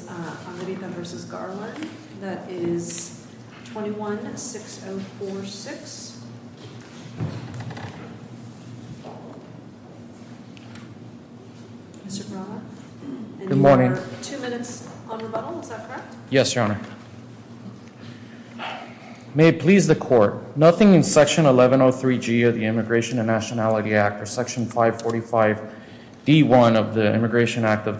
2 minutes on rebuttal, is that correct? Yes, Your Honor. May it please the Court, nothing in Section 1103G of the Immigration and Nationality Act or Section 545D1 of the Immigration Act of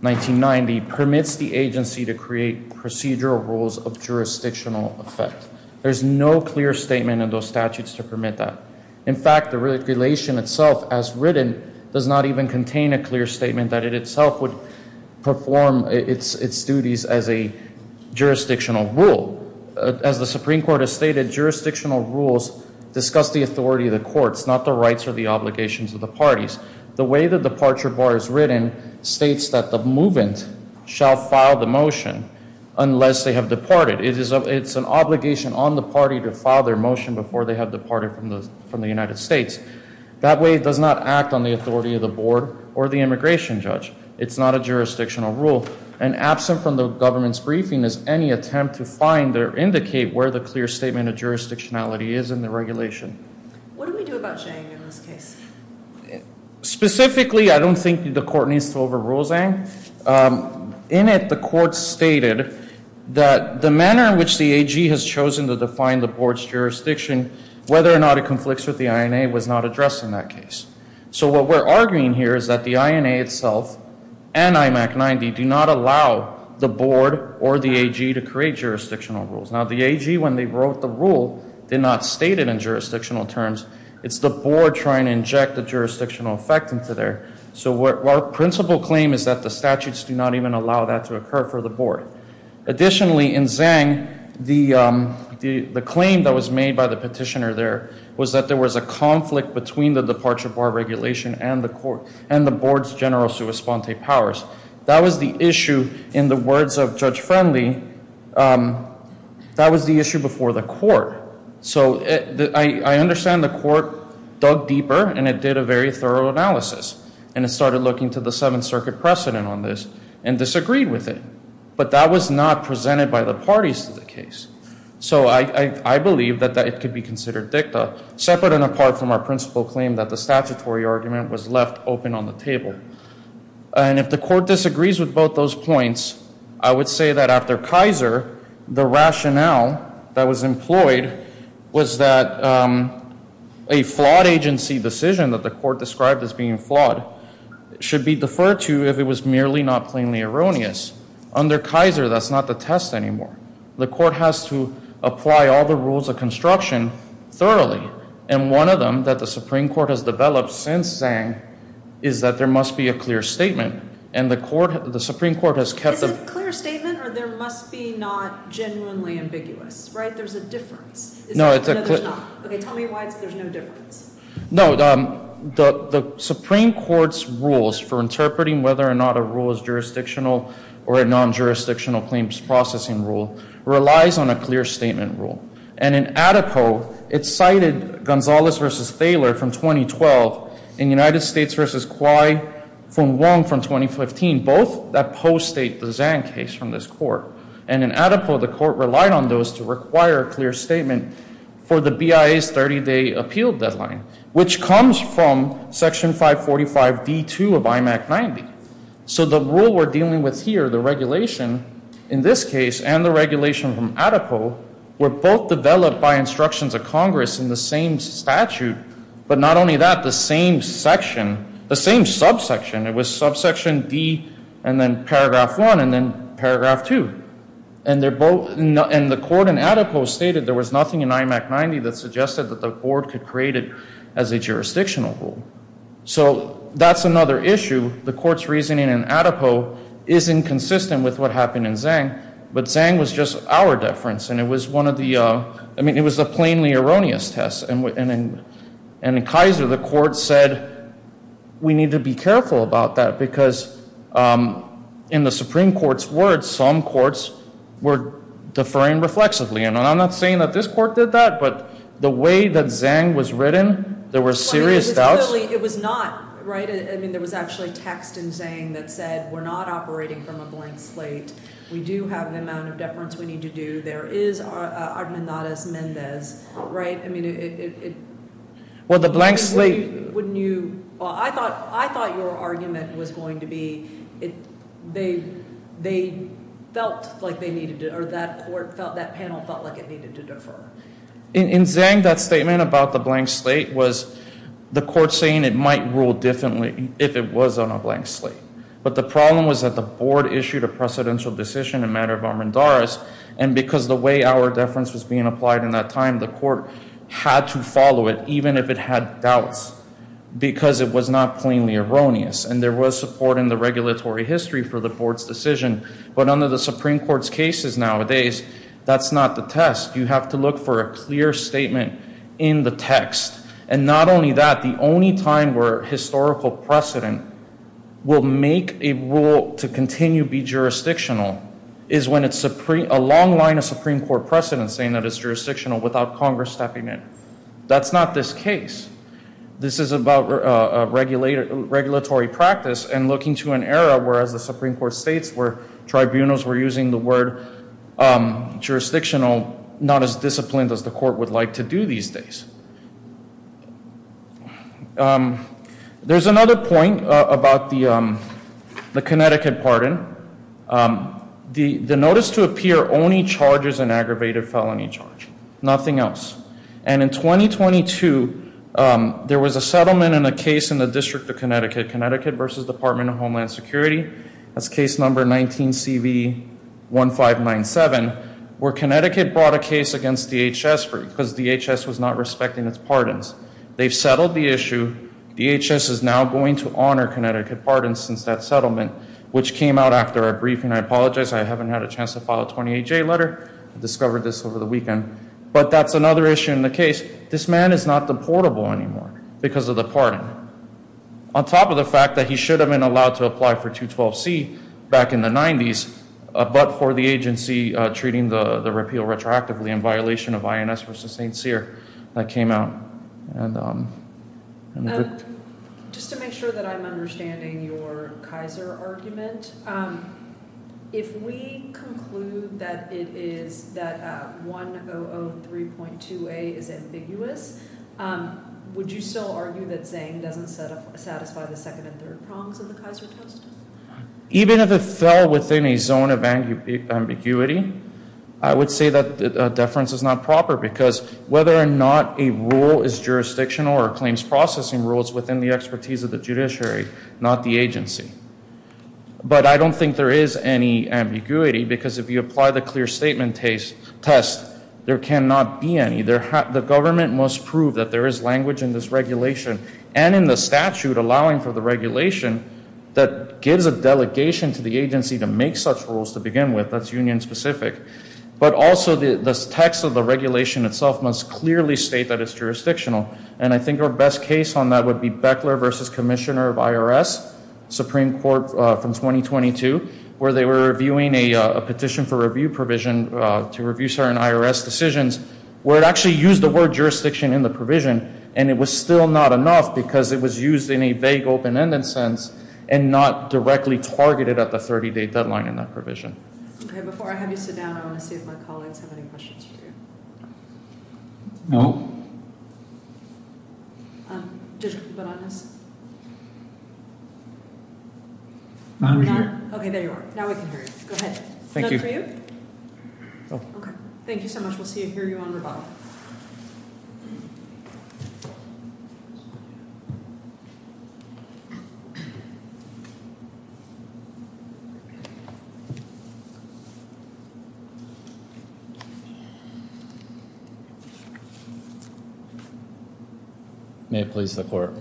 1990 permits the agency to create procedural rules of jurisdictional effect. There's no clear statement in those statutes to permit that. In fact, the regulation itself as written does not even contain a clear statement that it itself would perform its duties as a jurisdictional rule. As the Supreme Court has stated, jurisdictional rules discuss the authority of the courts, it's not the rights or the obligations of the parties. The way the departure bar is written states that the movement shall file the motion unless they have departed. It's an obligation on the party to file their motion before they have departed from the United States. That way it does not act on the authority of the board or the immigration judge. It's not a jurisdictional rule. And absent from the government's briefing is any attempt to find or indicate where the clear statement of jurisdictionality is in the regulation. What do we do about Zhang in this case? Specifically, I don't think the court needs to overrule Zhang. In it, the court stated that the manner in which the AG has chosen to define the board's jurisdiction, whether or not it conflicts with the INA was not addressed in that case. So what we're arguing here is that the INA itself and IMAC 90 do not allow the board or the AG to create jurisdictional rules. Now the AG, when they wrote the rule, did not state it in jurisdictional terms. It's the board trying to inject the jurisdictional effect into there. So our principal claim is that the statutes do not even allow that to occur for the board. Additionally, in Zhang, the claim that was made by the petitioner there was that there was a conflict between the departure bar regulation and the board's general sua sponte powers. That was the issue, in the words of Judge Friendly, that was the issue. So I understand the court dug deeper and it did a very thorough analysis and it started looking to the Seventh Circuit precedent on this and disagreed with it. But that was not presented by the parties to the case. So I believe that it could be considered dicta, separate and apart from our principal claim that the statutory argument was left open on the table. And if the court disagrees with both those points, I would say that after Kaiser, the rationale that was employed was that a flawed agency decision that the court described as being flawed should be deferred to if it was merely not plainly erroneous. Under Kaiser, that's not the test anymore. The court has to apply all the rules of construction thoroughly. And one of them that the Supreme Court has developed since Zhang is that there must be a clear statement. And the court, the Supreme Court has kept the clear statement or there must be not genuinely ambiguous, right? There's a difference. No, it's a clear. Tell me why there's no difference. No, the Supreme Court's rules for interpreting whether or not a rule is jurisdictional or a non-jurisdictional claims processing rule relies on a clear statement rule. And in ADIPO, it cited Gonzalez v. Thaler from 2012. In United States v. Kwai from Wong from 2015, both that post-state the Zhang case from this court. And in ADIPO, the court relied on those to require a clear statement for the BIA's 30-day appeal deadline, which comes from Section 545D2 of IMAC 90. So the rule we're dealing with here, the regulation in this case and the regulation from ADIPO were both developed by instructions of Congress in the same statute. But not only that, the same section, the same subsection, it was subsection D and then paragraph 1 and then paragraph 2. And the court in ADIPO stated there was nothing in IMAC 90 that suggested that the board could create it as a jurisdictional rule. So that's another issue. The court's reasoning in ADIPO isn't consistent with what happened in Zhang, but Zhang was just our deference. And it was one of the, I mean, it was a plainly erroneous test. And in Kaiser, the court said, we need to be careful about that because in the Supreme Court's words, some courts were deferring reflexively. And I'm not saying that this court did that, but the way that Zhang was written, there were serious doubts. It was not, right? I mean, there was actually text in Zhang that said, we're not operating from a blank slate. We do have the amount of deference we need to do. There is Armandadas Mendez, right? I mean, it... Well, the blank slate... Wouldn't you... Well, I thought your argument was going to be, they felt like they needed to, or that panel felt like it needed to defer. In Zhang, that statement about the blank slate was the court saying it might rule differently if it was on a blank slate. But the problem was that the board issued a precedential decision in matter of Armandadas. And because the way our deference was being applied in that time, the court had to follow it, even if it had doubts, because it was not plainly erroneous. And there was support in the regulatory history for the board's decision. But under the Supreme Court's cases nowadays, that's not the test. You have to look for a clear statement in the text. And not only that, the only time where historical precedent will make a rule to continue be jurisdictional is when it's a long line of Supreme Court precedent saying that it's jurisdictional without Congress stepping in. That's not this case. This is about regulatory practice and looking to an era where, as the Supreme Court states, where tribunals were using the word jurisdictional not as disciplined as the court would like to do these days. There's another point about the Connecticut pardon. The notice to appear only charges an aggravated felony charge, nothing else. And in 2022, there was a settlement in a case in the Connecticut versus Department of Homeland Security. That's case number 19CV1597, where Connecticut brought a case against DHS because DHS was not respecting its pardons. They've settled the issue. DHS is now going to honor Connecticut pardons since that settlement, which came out after our briefing. I apologize. I haven't had a chance to file a 28J letter. I discovered this over the weekend. But that's another issue in the case. This man is not portable anymore because of the pardon, on top of the fact that he should have been allowed to apply for 212C back in the 90s, but for the agency treating the repeal retroactively in violation of INS versus St. Cyr that came out. Just to make sure that I'm understanding your Kaiser argument, if we conclude that it is that 1003.2A is ambiguous, would you still argue that Zang doesn't satisfy the second and third prongs of the Kaiser toast? Even if it fell within a zone of ambiguity, I would say that the deference is not proper because whether or not a rule is jurisdictional or claims processing rules within the expertise of the But I don't think there is any ambiguity because if you apply the clear statement test, there cannot be any. The government must prove that there is language in this regulation and in the statute allowing for the regulation that gives a delegation to the agency to make such rules to begin with. That's union specific. But also the text of the regulation itself must clearly state that it's jurisdictional. And I think our best case on that would be Beckler versus Commissioner of IRS, Supreme Court from 2022, where they were reviewing a petition for review provision to review certain IRS decisions where it actually used the word jurisdiction in the provision and it was still not enough because it was used in a vague open-ended sense and not directly targeted at the 30-day deadline in that provision. Okay, before I have you sit down, I want to see if my colleagues have any questions for you. No. Um, just to be honest. Okay, there you are. Now we can hear you. Go ahead. Thank you. Okay. Thank you so much. We'll see you. Hear you on rebuttal. May it please the Court.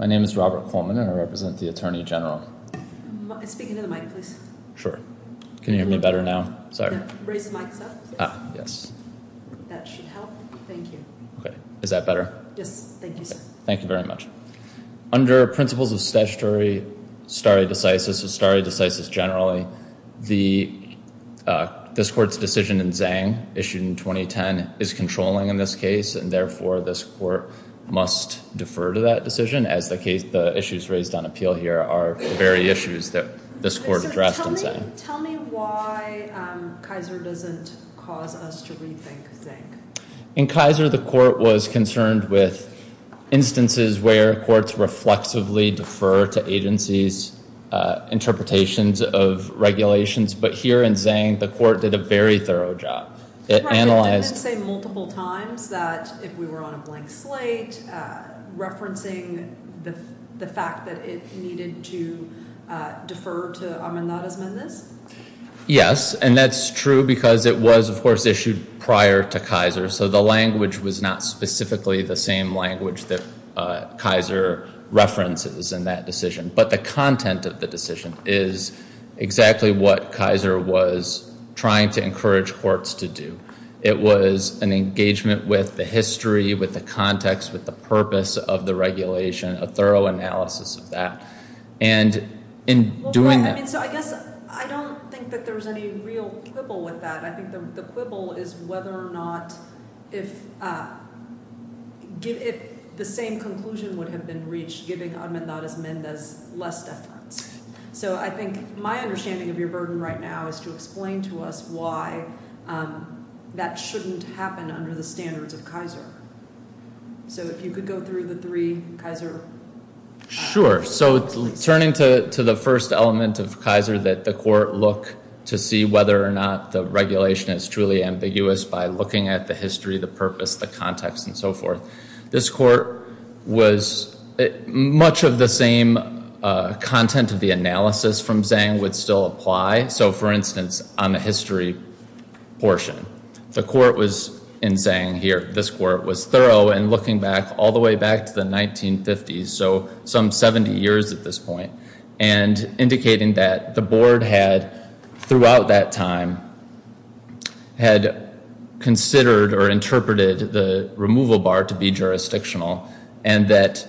My name is Robert Coleman and I represent the Attorney General. Speak into the mic, please. Sure. Can you hear me better now? Sorry. Raise the mics up. Ah, yes. That should help. Thank you. Okay. Is that better? Yes. Thank you, sir. Thank you very much. Under principles of statutory stare decisis, a stare decisis generally, the, uh, this Court's decision in Zhang, issued in 2010, is controlling in this case and therefore this Court must defer to that decision as the case, the issues raised on appeal here are the very issues that this Court addressed in Zhang. Tell me why Kaiser doesn't cause us to rethink Zhang. In Kaiser, the Court was concerned with instances where courts reflexively defer to agencies, uh, interpretations of regulations. But here in Zhang, the Court did a very thorough job. It analyzed. It didn't say multiple times that if we were on a blank slate, uh, referencing the, the fact that it needed to, uh, defer to Ahmad Nazim in this? Yes. And that's true because it was, of course, prior to Kaiser. So the language was not specifically the same language that, uh, Kaiser references in that decision. But the content of the decision is exactly what Kaiser was trying to encourage courts to do. It was an engagement with the history, with the context, with the purpose of the regulation, a thorough analysis of that. And in doing that. So I guess, I don't think that there was any real quibble with that. I think the quibble is whether or not, if, uh, give it the same conclusion would have been reached giving Ahmad Nazim less deference. So I think my understanding of your burden right now is to explain to us why, um, that shouldn't happen under the standards of Kaiser. So if you could go through the three Kaiser... Sure. So turning to, to the first element of Kaiser that the court look to see whether or not the regulation is truly ambiguous by looking at the history, the purpose, the context and so forth. This court was much of the same, uh, content of the analysis from Zhang would still apply. So for instance, on the history portion, the court was in saying here, this court was thorough and looking back all the way back to the 1950s. So some 70 years at this point and indicating that the board had, throughout that time, had considered or interpreted the removal bar to be jurisdictional and that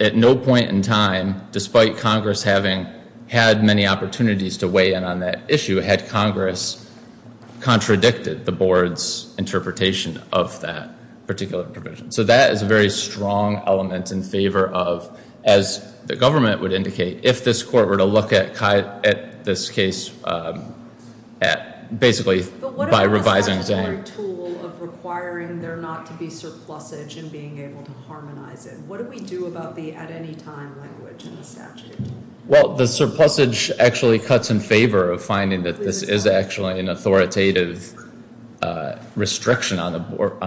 at no point in time, despite Congress having had many opportunities to weigh in on that issue, had Congress contradicted the board's interpretation of that particular provision. So that is a very strong element in favor of, as the government would indicate, if this court were to look at Kai, at this case, um, at basically by revising Zhang... But what about the statutory tool of requiring there not to be surplusage and being able to harmonize it? What do we do about the at any time language in the statute? Well, the surplusage actually cuts in favor of finding that this is actually an authoritative, uh, restriction on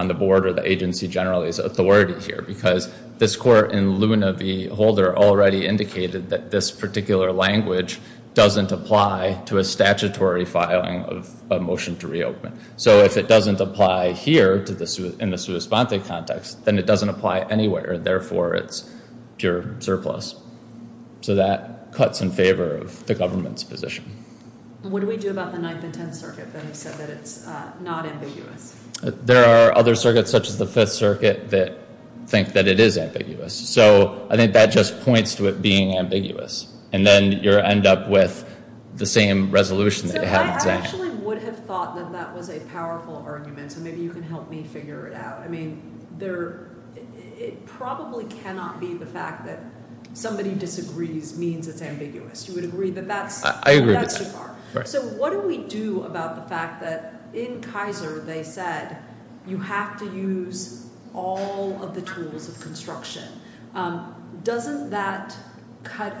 the board or the agency generally's authority here because this court in Luna v. Holder already indicated that this particular language doesn't apply to a statutory filing of a motion to reopen. So if it doesn't apply here to the, in the sua sponte context, then it doesn't apply anywhere. Therefore, it's pure surplus. So that cuts in favor of the government's position. What do we do about the Ninth and Tenth Circuit that have said that it's, uh, not ambiguous? There are other circuits, such as the Fifth Circuit, that think that it is ambiguous. So I think that just points to it being ambiguous. And then you end up with the same resolution that you have in Zhang. So I actually would have thought that that was a powerful argument, so maybe you can help me figure it out. I mean, there, it probably cannot be the fact that somebody disagrees means it's ambiguous. You would agree that that's, I agree with that. So what do we do about the fact that in Kaiser they said you have to use all of the tools of construction? Um, doesn't that cut,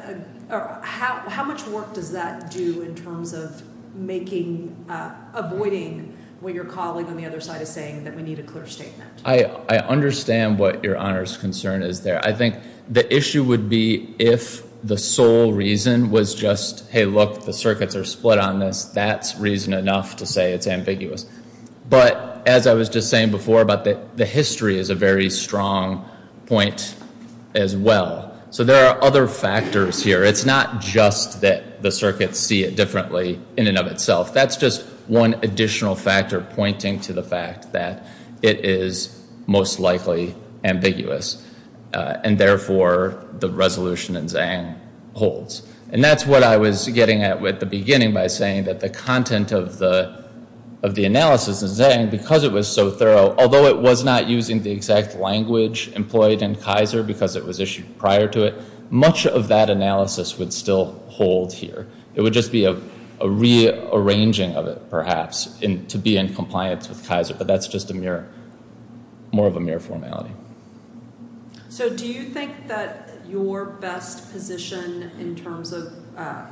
or how, how much work does that do in terms of making, uh, avoiding what your colleague on the other side is saying, that we need a clear statement? I, I understand what your Honor's concern is there. I think the issue would be if the sole reason was just, hey, look, the circuits are split on this. That's reason enough to say it's ambiguous. But as I was just saying before about the, the history is a very strong point as well. So there are other factors here. It's not just that the circuits see it differently in and of itself. That's just one additional factor pointing to the fact that it is most likely ambiguous. And therefore, the resolution in Zhang holds. And that's what I was getting at with the beginning by saying that the content of the, of the analysis in Zhang, because it was so thorough, although it was not using the exact language employed in Kaiser because it was issued prior to it, much of that analysis would still hold here. It would just be a, a rearranging of it, perhaps, in, to be in compliance with Kaiser. But that's just a mere, more of a mere formality. So do you think that your best position in terms of, uh,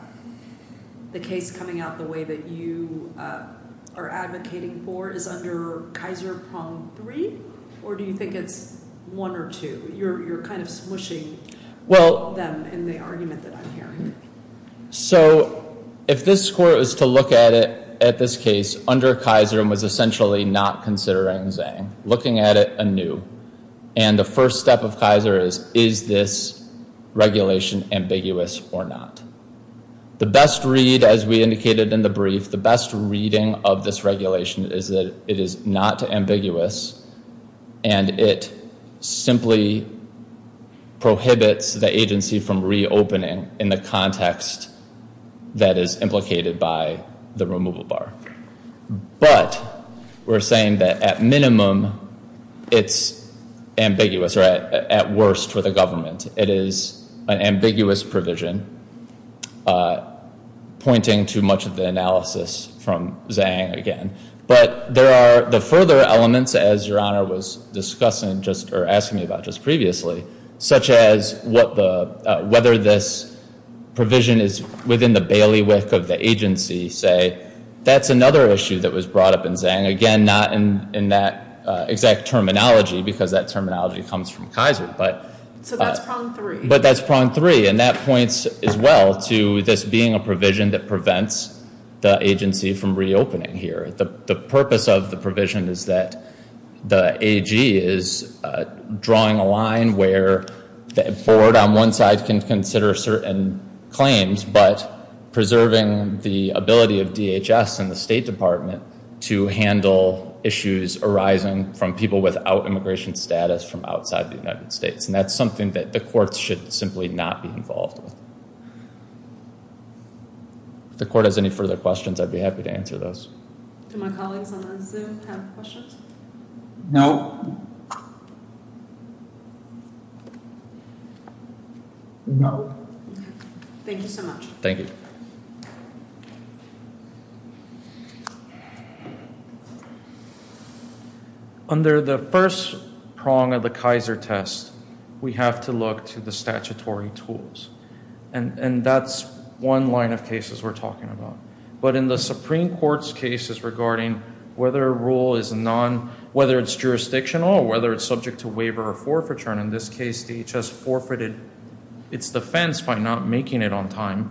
the case coming out the way that you, uh, are advocating for is under Kaiser prong three, or do you think it's one or two? You're, you're kind of smooshing them in the argument that I'm hearing. So if this score is to look at it, at this case, under Kaiser and was essentially not considering Zhang, looking at it anew, and the first step of Kaiser is, is this regulation ambiguous or not? The best read, as we indicated in the brief, the best reading of this regulation is that it is not ambiguous and it simply prohibits the agency from reopening in the context that is implicated by the removal bar. But we're saying that at minimum, it's ambiguous, or at, at worst for the government. It is an ambiguous provision, uh, pointing to much of the analysis from Zhang again. But there are the further elements, as Your Honor was discussing, just, or asking me about just previously, such as what the, uh, whether this provision is within the bailiwick of the agency, say, that's another issue that was brought up in Zhang. Again, not in, in that, uh, exact terminology, because that terminology comes from Kaiser, but. So that's prong three. But that's prong three, and that points as well to this being a provision that prevents the agency from reopening here. The, the purpose of the provision is that the AG is, uh, drawing a line where the board on one side can consider certain claims, but preserving the ability of DHS and the State Department to handle issues arising from people without immigration status from outside the United States. And that's something that the courts should simply not be involved with. If the court has any further questions, I'd be happy to answer those. Do my colleagues on Zoom have questions? No. No. Thank you so much. Thank you. Under the first prong of the Kaiser test, we have to look to the statutory tools. And, and that's one line of cases we're talking about. But in the Supreme Court's cases regarding whether a rule is non, whether it's jurisdictional or whether it's subject to waiver or forfeiture, in this case DHS forfeited its defense by not making it on time,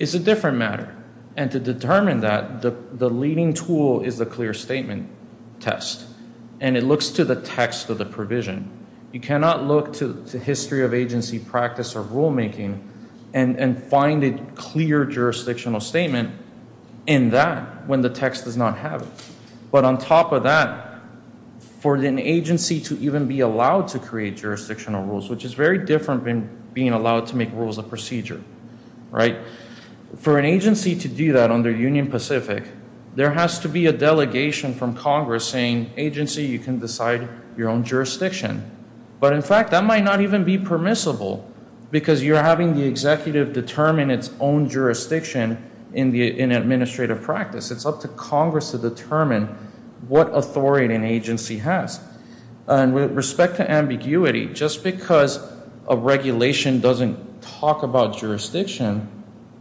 is a different matter. And to determine that, the, the leading tool is the clear statement test. And it looks to the text of the provision. You cannot look to the history of agency practice or rulemaking and, and find a clear jurisdictional statement in that when the text does not have it. But on top of that, for an agency to even be allowed to create jurisdictional rules, which is very different than being allowed to make rules of procedure, right? For an agency to do that under Union Pacific, there has to be a delegation from Congress saying, agency, you can decide your own jurisdiction. But in fact, that might not even be permissible because you're having the executive determine its own jurisdiction in the, in administrative practice. It's up to Congress to determine what authority an agency has. And with respect to ambiguity, just because a regulation doesn't talk about jurisdiction,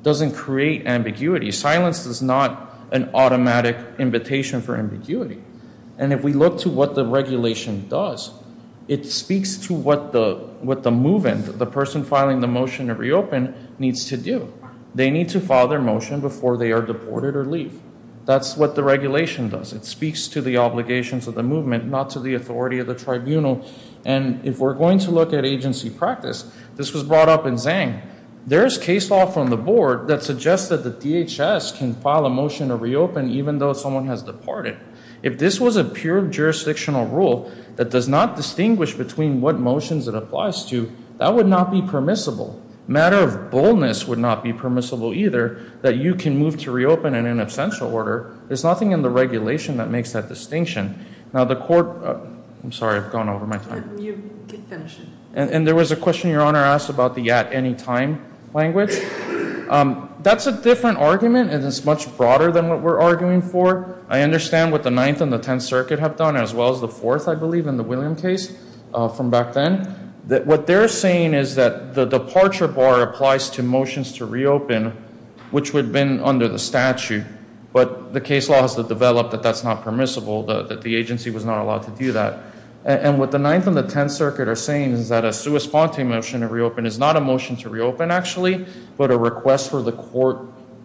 doesn't create ambiguity. Silence is not an automatic invitation for ambiguity. And if we look to what the regulation does, it speaks to what the, what the move-in, the person filing the motion to reopen, needs to do. They need to file their motion before they are deported or leave. That's what the regulation does. It speaks to the obligations of the movement, not to the authority of the tribunal. And if we're going to look at agency practice, this was brought up in Zhang. There is case law from the board that suggests that the DHS can file a motion to reopen even though someone has departed. If this was a pure jurisdictional rule that does not distinguish between what motions it applies to, that would not be permissible. Matter of boldness would not be either, that you can move to reopen in an absential order. There's nothing in the regulation that makes that distinction. Now the court, I'm sorry, I've gone over my time. And there was a question your honor asked about the at any time language. That's a different argument and it's much broader than what we're arguing for. I understand what the Ninth and the Tenth Circuit have done, as well as the Fourth, I believe, in the William case from back then. What they're saying is that the departure bar applies to motions to reopen, which would have been under the statute. But the case law has developed that that's not permissible, that the agency was not allowed to do that. And what the Ninth and the Tenth Circuit are saying is that a sua sponte motion to reopen is not a motion to reopen actually, but a request for the court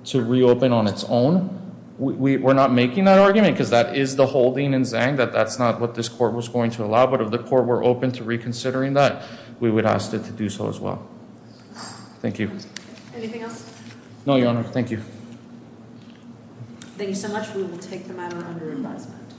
to reopen on its own. We're not making that argument because that is the holding in Zhang that that's not what this was going to allow. But if the court were open to reconsidering that, we would ask it to do so as well. Thank you. Anything else? No, your honor. Thank you. Thank you so much. We will take the matter under advisement.